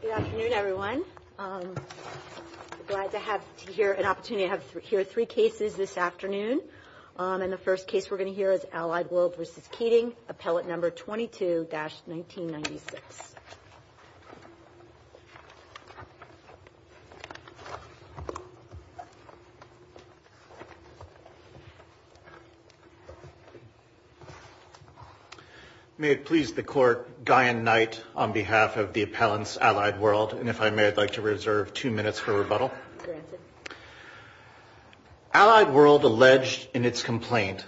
Good afternoon, everyone. I'm glad to have an opportunity to hear three cases this afternoon. And the first case we're going to hear is Allied World v. Keating, Appellate No. 22-1996. May it please the Court, Guy and Knight, on behalf of the appellants, Allied World, and if I may, I'd like to reserve two minutes for rebuttal. Allied World alleged in its complaint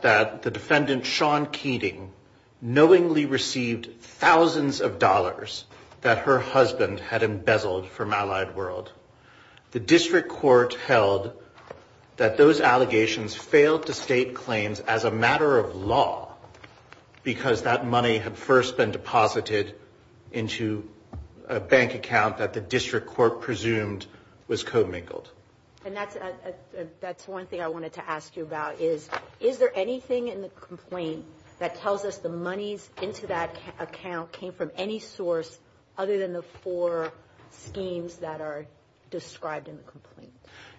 that the defendant, Sean Keating, knowingly received thousands of dollars that her husband had embezzled from Allied World. The district court held that those allegations failed to state claims as a matter of law because that money had first been deposited into a bank account that the district court presumed was co-mingled. And that's one thing I wanted to ask you about is, is there anything in the complaint that tells us the monies into that account came from any source other than the four schemes that are described in the complaint?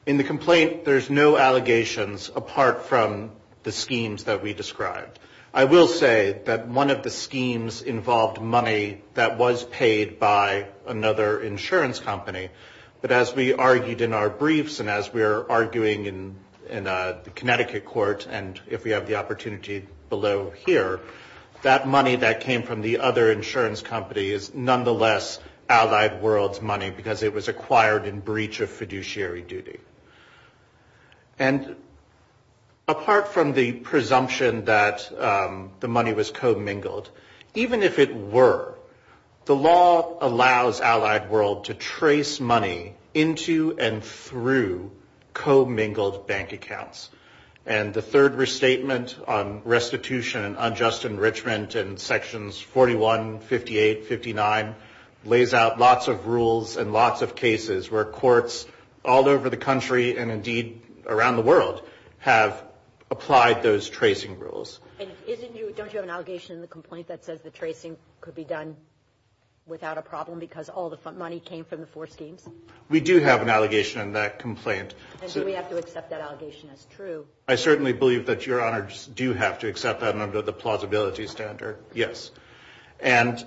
In the complaint, there's no allegations apart from the schemes that we described. I will say that one of the schemes involved money that was paid by another insurance company. But as we argued in our briefs and as we're arguing in the Connecticut court, and if we have the opportunity below here, that money that came from the other insurance company is nonetheless Allied World's money because it was acquired in breach of fiduciary duty. And apart from the presumption that the money was co-mingled, even if it were, the law allows Allied World to trace money into and through co-mingled bank accounts. And the third restatement on restitution and unjust enrichment in sections 41, 58, 59 lays out lots of rules and lots of cases where courts all over the country and indeed around the world have applied those tracing rules. And isn't you, don't you have an allegation in the complaint that says the tracing could be done without a problem because all the money came from the four schemes? We do have an allegation in that complaint. And do we have to accept that allegation as true? I certainly believe that Your Honors do have to accept that under the plausibility standard, yes. And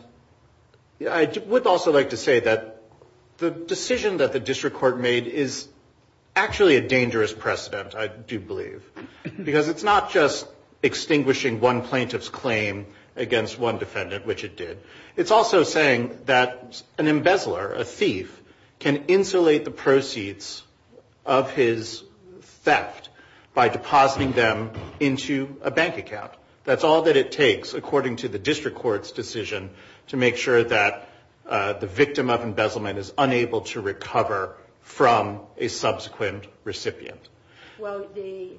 I would also like to say that the decision that the district court made is actually a dangerous precedent, I do believe. Because it's not just extinguishing one plaintiff's claim against one defendant, which it did. It's also saying that an embezzler, a thief, can insulate the proceeds of his theft by depositing them into a bank account. That's all that it takes according to the district court's decision to make sure that the victim of embezzlement is unable to recover from a subsequent recipient. Well, the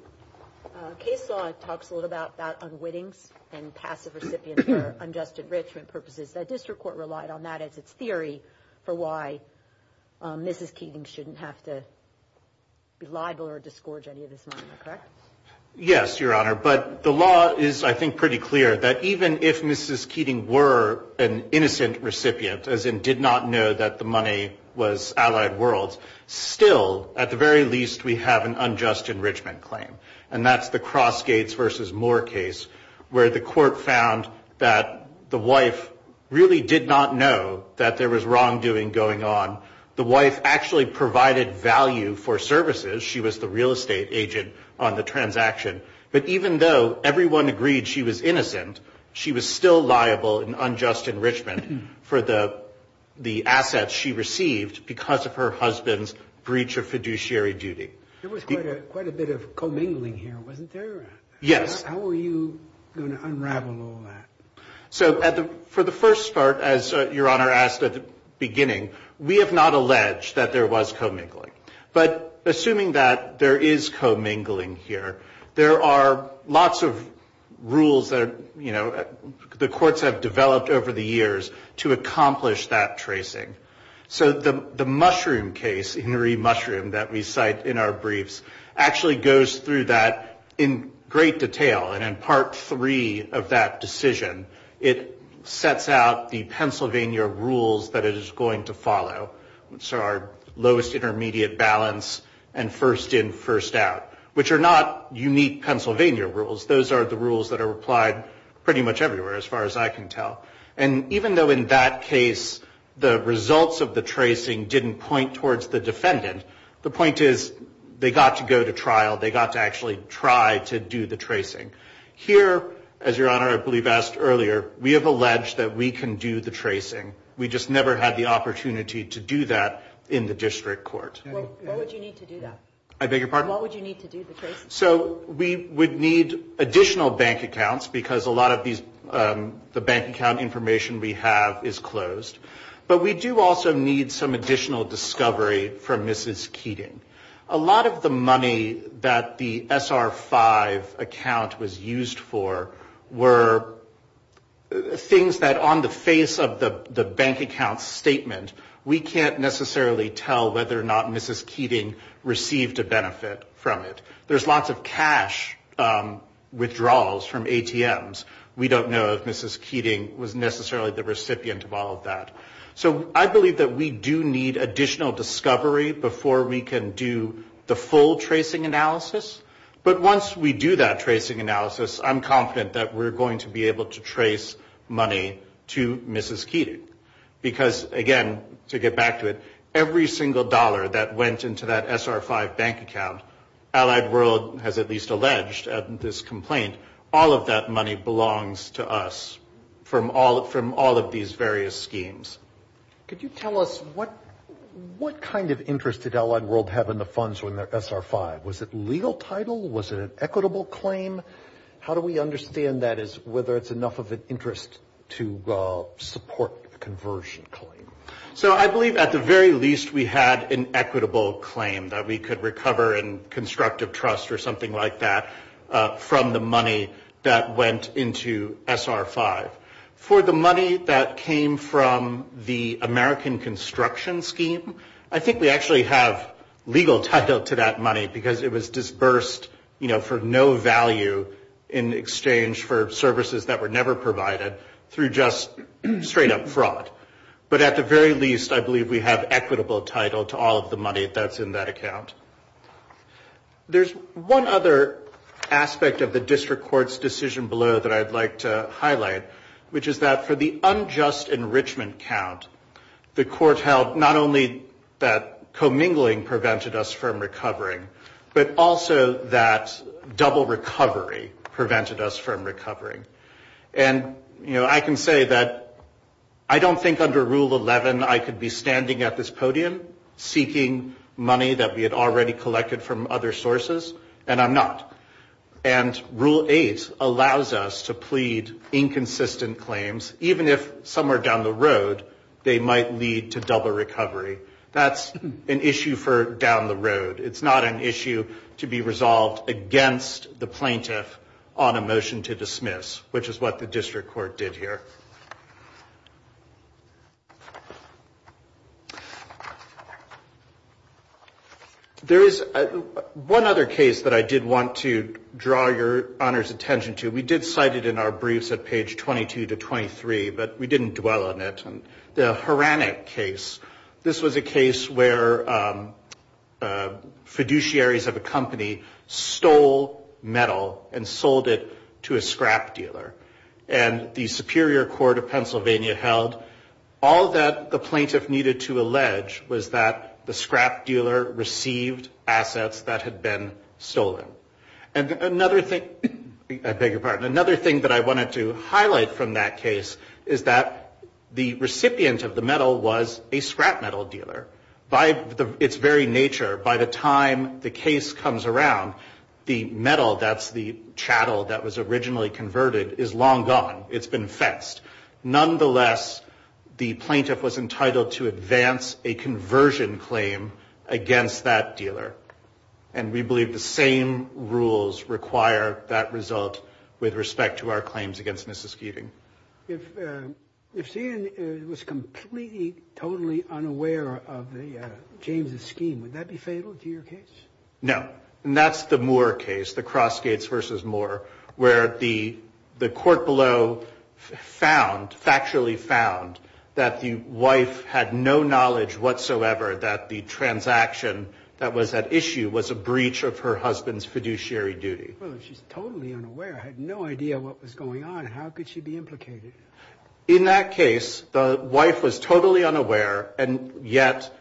case law talks a little bit about unwittings and passive recipients for unjust enrichment purposes. The district court relied on that as its theory for why Mrs. Keating shouldn't have to be liable or disgorge any of this money, correct? Yes, Your Honor. But the law is, I think, pretty clear that even if Mrs. Keating were an innocent recipient, as in did not know that the money was allied worlds, still, at the very least, we have an unjust enrichment claim. And that's the Crossgates v. Moore case, where the court found that the wife really did not know that there was wrongdoing going on. The wife actually provided value for services. She was the real estate agent on the transaction. But even though everyone agreed she was innocent, she was still liable in unjust enrichment for the assets she received because of her husband's breach of fiduciary duty. There was quite a bit of commingling here, wasn't there? Yes. How were you going to unravel all that? So for the first part, as Your Honor asked at the beginning, we have not alleged that there was commingling. But assuming that there is commingling here, there are lots of rules that the courts have developed over the years to accomplish that tracing. So the Mushroom case, Henry Mushroom, that we cite in our briefs, actually goes through that in great detail. And in Part 3 of that decision, it sets out the Pennsylvania rules that it is going to follow. So our lowest intermediate balance and first in, first out, which are not unique Pennsylvania rules. Those are the rules that are applied pretty much everywhere, as far as I can tell. And even though in that case the results of the tracing didn't point towards the defendant, the point is they got to go to trial. They got to actually try to do the tracing. Here, as Your Honor, I believe, asked earlier, we have alleged that we can do the tracing. We just never had the opportunity to do that in the district court. What would you need to do that? I beg your pardon? What would you need to do the tracing? So we would need additional bank accounts because a lot of these, the bank account information we have is closed. But we do also need some additional discovery from Mrs. Keating. A lot of the money that the SR-5 account was used for were things that on the face of the bank account statement, we can't necessarily tell whether or not Mrs. Keating received a benefit from it. There's lots of cash withdrawals from ATMs. We don't know if Mrs. Keating was necessarily the recipient of all of that. So I believe that we do need additional discovery before we can do the full tracing analysis. But once we do that tracing analysis, I'm confident that we're going to be able to trace money to Mrs. Keating. Because, again, to get back to it, every single dollar that went into that SR-5 bank account, Allied World has at least alleged at this complaint, all of that money belongs to us from all of these various schemes. Could you tell us what kind of interest did Allied World have in the funds when the SR-5? Was it legal title? Was it an equitable claim? How do we understand that as whether it's enough of an interest to support a conversion claim? So I believe at the very least we had an equitable claim that we could recover in constructive trust or something like that from the money that went into SR-5. For the money that came from the American construction scheme, I think we actually have legal title to that money because it was disbursed, you know, for no value in exchange for services that were never provided through just straight-up fraud. But at the very least, I believe we have equitable title to all of the money that's in that account. There's one other aspect of the district court's decision below that I'd like to highlight, which is that for the unjust enrichment count, the court held not only that commingling prevented us from recovering, but also that double recovery prevented us from recovering. And, you know, I can say that I don't think under Rule 11 I could be standing at this podium seeking money that we had already collected from other sources, and I'm not. And Rule 8 allows us to plead inconsistent claims, even if somewhere down the road they might lead to double recovery. That's an issue for down the road. It's not an issue to be resolved against the plaintiff on a motion to dismiss, which is what the district court did here. There is one other case that I did want to draw your Honor's attention to. We did cite it in our briefs at page 22 to 23, but we didn't dwell on it. The Horanic case, this was a case where fiduciaries of a company stole metal and sold it to a scrap dealer. And the Superior Court of Pennsylvania held all that the plaintiff needed to allege was that the scrap dealer received assets that had been stolen. And another thing that I wanted to highlight from that case is that the recipient of the metal was a scrap metal dealer. By its very nature, by the time the case comes around, the metal, that's the chattel that was originally converted, is long gone. It's been fenced. Nonetheless, the plaintiff was entitled to advance a conversion claim against that dealer. And we believe the same rules require that result with respect to our claims against Mrs. Keating. If Stan was completely, totally unaware of James' scheme, would that be fatal to your case? No. And that's the Moore case, the Crossgates v. Moore, where the court below found, factually found, that the wife had no knowledge whatsoever that the transaction that was at issue was a breach of her husband's fiduciary duty. Well, if she's totally unaware, had no idea what was going on, how could she be implicated? In that case, the wife was totally unaware, and yet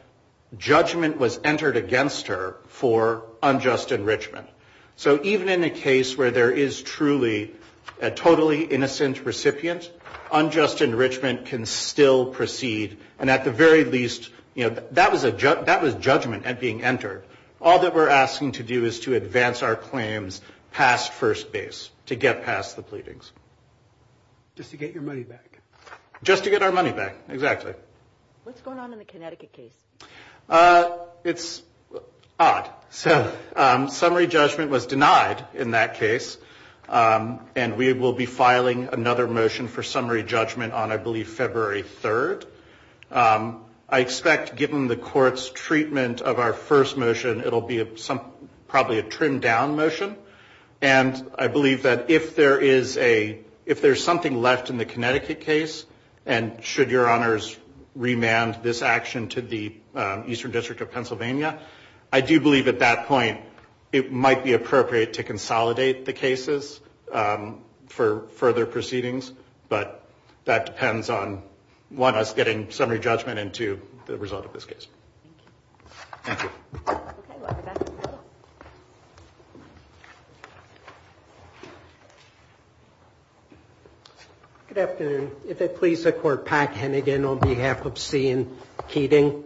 judgment was entered against her for unjustified enrichment. So even in a case where there is truly a totally innocent recipient, unjust enrichment can still proceed. And at the very least, that was judgment being entered. All that we're asking to do is to advance our claims past first base, to get past the pleadings. Just to get your money back. Just to get our money back, exactly. What's going on in the Connecticut case? It's odd. So summary judgment was denied in that case, and we will be filing another motion for summary judgment on, I believe, February 3rd. I expect, given the court's treatment of our first motion, it will be probably a trimmed down motion. And I believe that if there is a, if there's something left in the Connecticut case, and should your honors remand this action to the Eastern District of Pennsylvania, I do believe at that point it might be appropriate to consolidate the cases for further proceedings. But that depends on, one, us getting summary judgment, and two, the result of this case. Thank you. Good afternoon. If it please the Court, Pat Hennigan on behalf of C and Keating.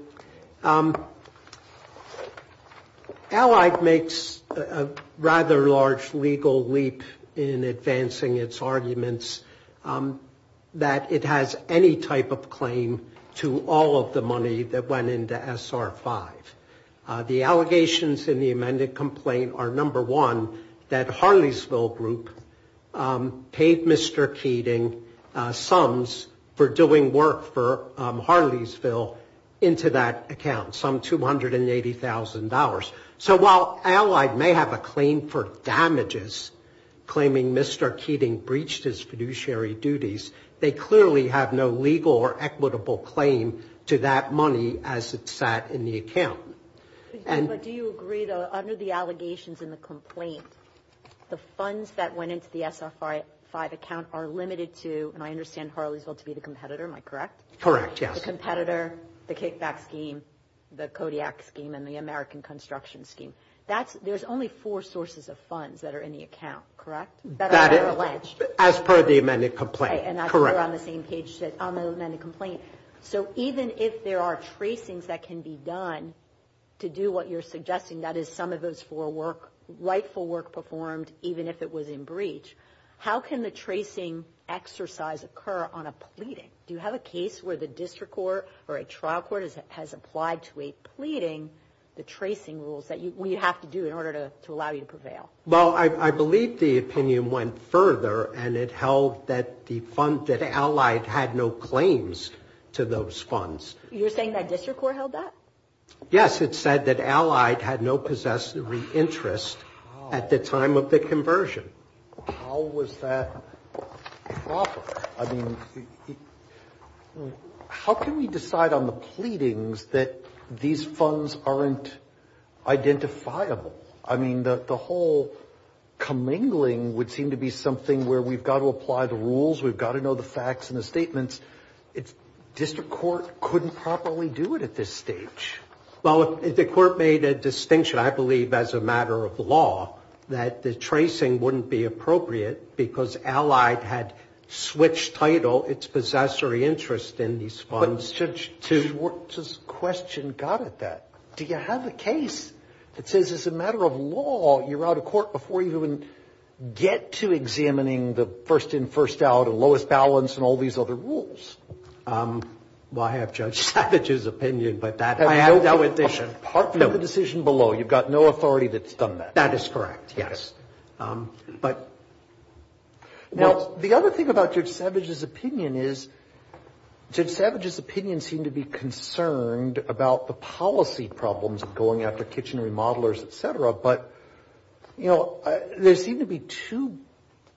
Allied makes a rather large legal leap in advancing its arguments. That it has any type of claim to all of the money that went into SR 5. The allegations in the amended complaint are, number one, that Harleysville group paid Mr. Keating sums for doing work for Harleysville into that account, some $280,000. So while Allied may have a claim for damages, claiming Mr. Keating's fiduciary duties, they clearly have no legal or equitable claim to that money as it sat in the account. But do you agree, though, under the allegations in the complaint, the funds that went into the SR 5 account are limited to, and I understand Harleysville to be the competitor, am I correct? Correct, yes. The competitor, the kickback scheme, the Kodiak scheme, and the American construction scheme. That's, there's only four sources of funds that are in the account, correct? That is, as per the amended complaint, correct. So even if there are tracings that can be done to do what you're suggesting, that is some of those four work, rightful work performed, even if it was in breach, how can the tracing exercise occur on a pleading? Do you have a case where the district court or a trial court has applied to a pleading the tracing rules that you have to do in order to allow you to prevail? Well, I believe the opinion went further, and it held that the fund, that Allied had no claims to those funds. You're saying that district court held that? Yes, it said that Allied had no possessory interest at the time of the conversion. How was that proper? I mean, how can we decide on the pleadings that these funds aren't identifiable? I mean, the whole commingling would seem to be something where we've got to apply the rules, we've got to know the facts and the statements. District court couldn't properly do it at this stage. Well, the court made a distinction, I believe, as a matter of law, that the tracing wouldn't be appropriate because Allied had switched title, its possessory interest in these funds. But Judge, this question got at that. Do you have a case that says, as a matter of law, you're out of court before you even get to examining the first-in, first-out and lowest balance and all these other rules? Well, I have Judge Savage's opinion, but that is part of the decision below. You've got no authority that's done that. That is correct, yes. Now, the other thing about Judge Savage's opinion is Judge Savage's opinion seemed to be concerned about the policy problems of going after kitchen remodelers, et cetera, but there seem to be two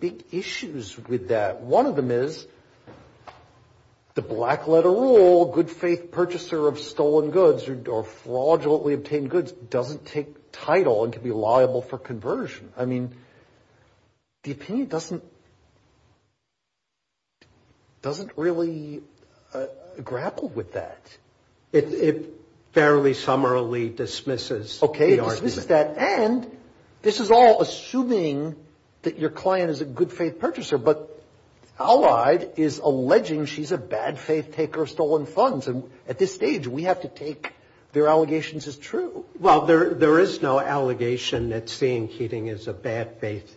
big issues with that. One of them is the black-letter rule, good-faith purchaser of stolen goods or fraudulently obtained goods, doesn't take title and can be liable for conversion. I mean, the opinion doesn't really grapple with that. It fairly summarily dismisses the argument. And this is all assuming that your client is a good-faith purchaser, but Allied is alleging she's a bad-faith taker of stolen funds. And at this stage, we have to take their allegations as true. Well, there is no allegation that seeing Keating as a bad-faith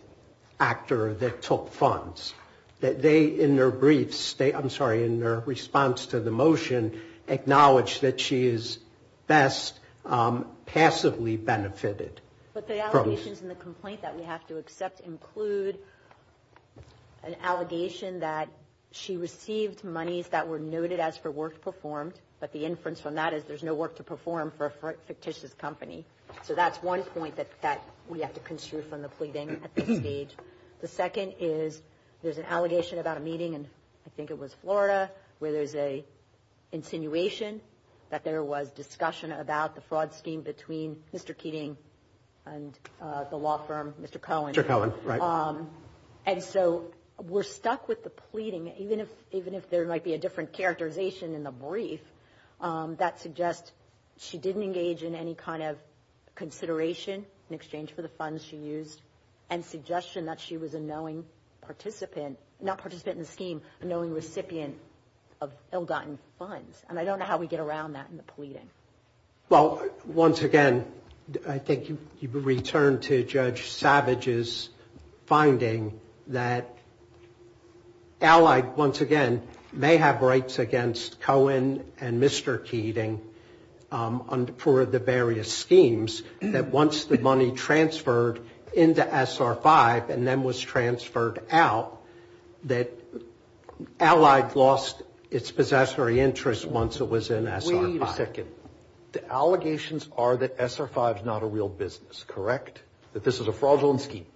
actor that took funds, that they, in their briefs, I'm sorry, in their response to the motion, acknowledge that she is best passively benefited. But the allegations in the complaint that we have to accept include an allegation that she received monies that were noted as for work performed, but the inference from that is there's no work to perform for a fictitious company. So that's one point that we have to construe from the pleading at this stage. The second is there's an allegation about a meeting in, I think it was Florida, where there's an insinuation that there was discussion about the fraud scheme between Mr. Keating and the law firm, Mr. Cohen. And so we're stuck with the pleading, even if there might be a different characterization in the brief, that suggests she didn't engage in any kind of consideration in exchange for the funds she used, and suggestion that she was a knowing participant, not participant in the scheme, but a knowing recipient of ill-gotten funds. And I don't know how we get around that in the pleading. Well, once again, I think you return to Judge Savage's finding that allied, once again, may have rights against Cohen and Mr. Keating for the various schemes, that once the money transferred into SR-5 and then was transferred out, that allied lost its possessory interest once it was in SR-5. Wait a second. The allegations are that SR-5 is not a real business, correct? That this is a fraudulent scheme?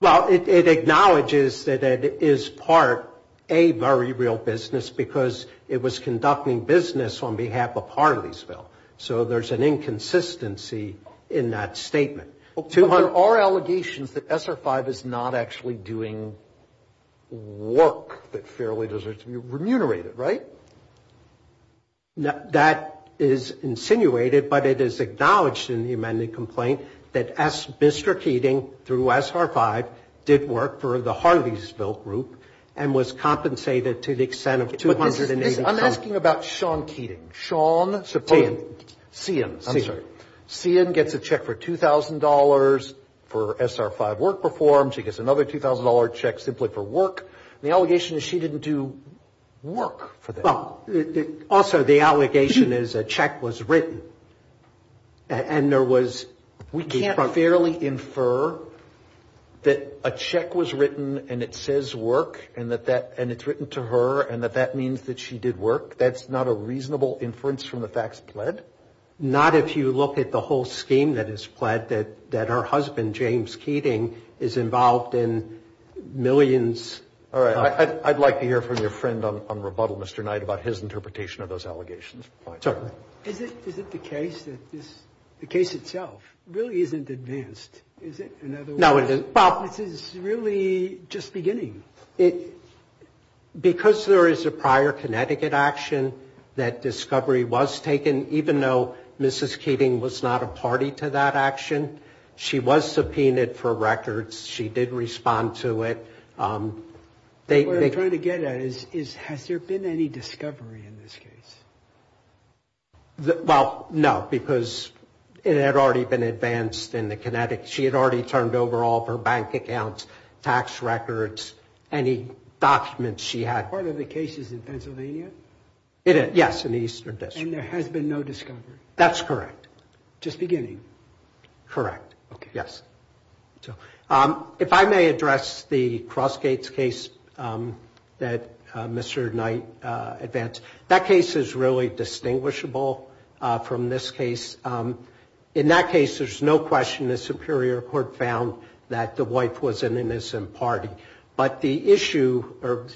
Well, it acknowledges that it is part a very real business, because it was conducting business on behalf of Harley'sville. So there's an inconsistency in that statement. But there are allegations that SR-5 is not actually doing work that fairly deserves to be remunerated, right? That is insinuated, but it is acknowledged in the amended complaint that Mr. Keating through SR-5 did work for the Harley'sville group and was compensated to the extent of $280,000. I'm asking about Sean Keating. Sean. Sian. Sian gets a check for $2,000 for SR-5 work performed. She gets another $2,000 check simply for work. The allegation is she didn't do work for them. Also, the allegation is a check was written, and there was, we can't fairly infer that a check was written and it says work and it's written to her and that that means that she did work. That's not a reasonable inference from the facts pled? Not if you look at the whole scheme that is pled, that her husband, James Keating, is involved in millions. All right. I'd like to hear from your friend on rebuttal, Mr. Knight, about his interpretation of those allegations. Is it the case that this, the case itself really isn't advanced? Is it in other words? No, it isn't. This is really just beginning. Because there is a prior Connecticut action that discovery was taken, even though Mrs. Keating was not a party to that action, she was subpoenaed for records. She did respond to it. What I'm trying to get at is has there been any discovery in this case? Well, no, because it had already been advanced in the Connecticut. She had already turned over all of her bank accounts, tax records, any documents she had. Part of the case is in Pennsylvania? Yes, in the Eastern District. And there has been no discovery? That's correct. Just beginning? Correct. Yes. If I may address the Crossgates case that Mr. Knight advanced, that case is really distinguishable from this case. In that case, there's no question the Superior Court found that the wife was an innocent party. But the issue or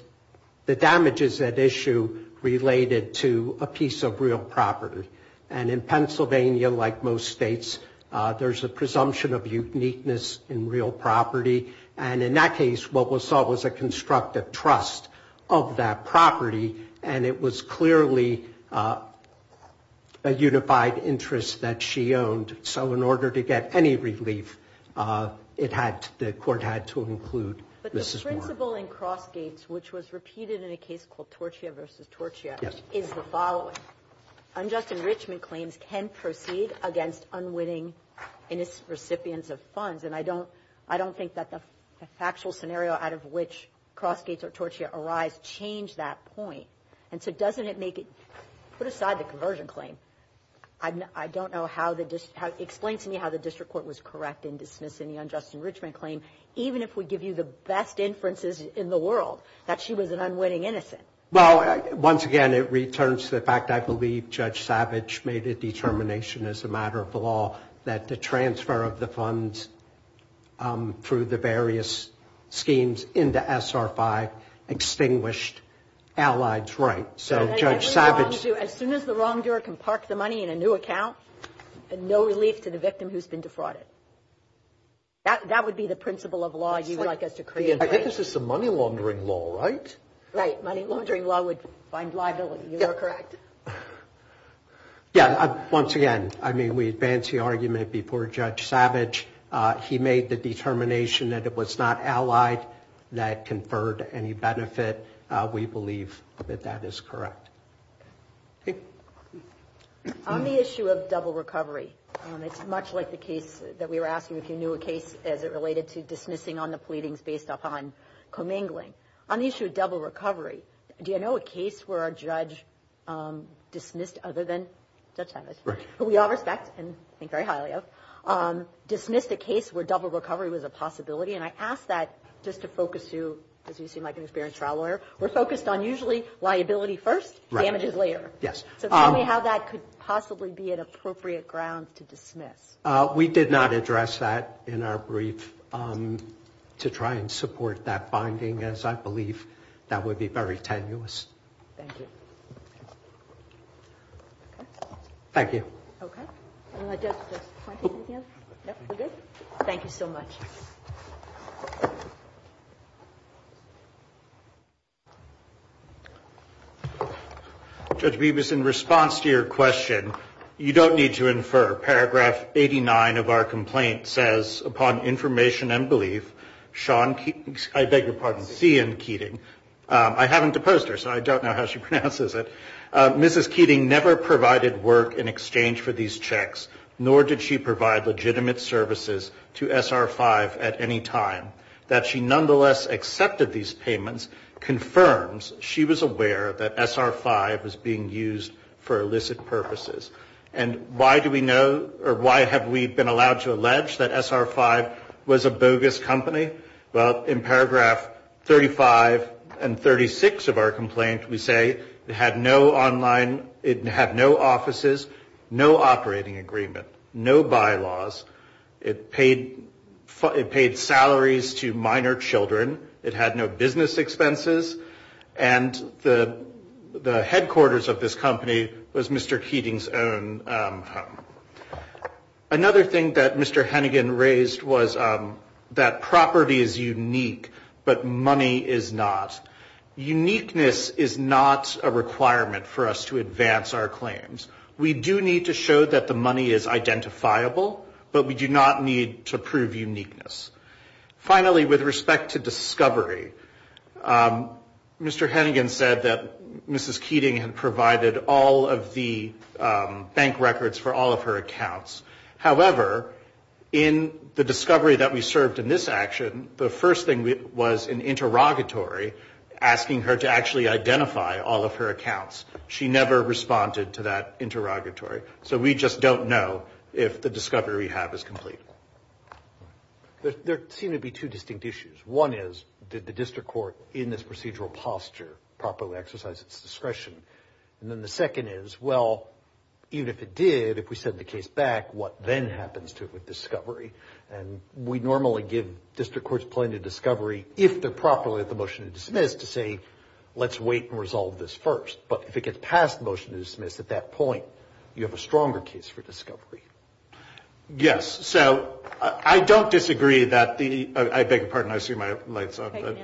the damages at issue related to a piece of real property. And in Pennsylvania, like most states, there's a presumption of uniqueness in real property. And in that case, what was sought was a constructive trust of that property. And it was clearly a unified interest that she owned. So in order to get any relief, it had to, the court had to include Mrs. Moore. But the principle in Crossgates, which was repeated in a case called Torchia v. Torchia, is the following. Unjust enrichment claims can proceed against unwitting innocent recipients of funds. And I don't think that the factual scenario out of which Crossgates or Torchia arise changed that point. And so doesn't it make it, put aside the conversion claim. I don't know how the, explain to me how the district court was correct in dismissing the unjust enrichment claim, even if we give you the best inferences in the world that she was an unwitting innocent. Well, once again, it returns to the fact, I believe Judge Savage made a determination as a matter of law that the transfer of the funds through the various schemes into SR5 extinguished allied's right. So Judge Savage. As soon as the wrongdoer can park the money in a new account, and no relief to the victim who's been defrauded. That would be the principle of law you'd like us to create. I think this is the money laundering law, right? Right. Money laundering law would find liability. You are correct. Yeah. Once again, I mean, we advance the argument before Judge Savage. He made the determination that it was not allied that conferred any benefit. We believe that that is correct. On the issue of double recovery, it's much like the case that we were asking if you knew a case as it related to dismissing on the pleadings based upon commingling. On the issue of double recovery, do you know a case where a judge dismissed other than Judge Savage, who we all respect and think very highly of, dismissed a case where double recovery was a possibility? And I ask that just to focus you, because you seem like an experienced trial lawyer. We're focused on usually liability first, damages later. Yes. So tell me how that could possibly be an appropriate ground to dismiss. We did not address that in our brief to try and support that finding as I believe that would be very tenuous. Thank you. Thank you. Okay. Thank you so much. Judge Bibas, in response to your question, you don't need to infer. Paragraph 89 of our complaint says, upon information and belief, Sean Keating, I beg your pardon, C.N. Keating. I haven't opposed her, so I don't know how she pronounces it. Mrs. Keating never provided work in exchange for these checks, nor did she provide legitimate services to SR-5 at any time. That she nonetheless accepted these payments confirms she was aware that SR-5 was being used for illicit purposes. And why do we know or why have we been allowed to allege that SR-5 was a bogus company? Well, in paragraph 35 and 36 of our complaint, we say it had no online, it had no offices, no operating agreement, no bylaws. It paid salaries to minor children. It had no business expenses. And the headquarters of this company was Mr. Keating's own home. Another thing that Mr. Hennigan raised was that property is unique, but money is not. Uniqueness is not a requirement for us to advance our claims. We do need to show that the money is identifiable, but we do not need to prove uniqueness. Finally, with respect to discovery, Mr. Hennigan said that Mrs. Keating had provided all of the bank records for all of her accounts. However, in the discovery that we served in this action, the first thing was an interrogatory asking her to actually identify all of her accounts. She never responded to that interrogatory. So we just don't know if the discovery we have is complete. There seem to be two distinct issues. One is, did the district court in this procedural posture properly exercise its discretion? And then the second is, well, even if it did, if we send the case back, what then happens to it with discovery? And we normally give district courts plenty of discovery if they're properly at the motion to dismiss to say, let's wait and resolve this first. But if it gets past the motion to dismiss at that point, you have a stronger case for discovery. Yes. So I don't disagree that the I beg your pardon. I see my lights on.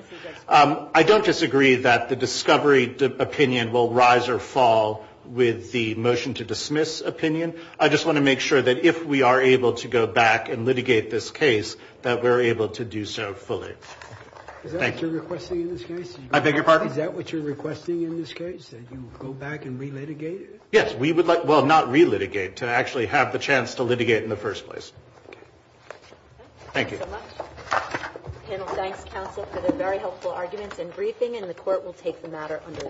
I don't disagree that the discovery opinion will rise or fall with the motion to dismiss opinion. I just want to make sure that if we are able to go back and litigate this case, that we're able to do so fully. Thank you. I beg your pardon. Is that what you're requesting in this case, that you go back and relitigate it? Yes. We would like, well, not relitigate, to actually have the chance to litigate in the first place. Okay. Thank you. Thank you so much. Panel, thanks. Counsel for the very helpful arguments and briefing. And the court will take the matter under a vote.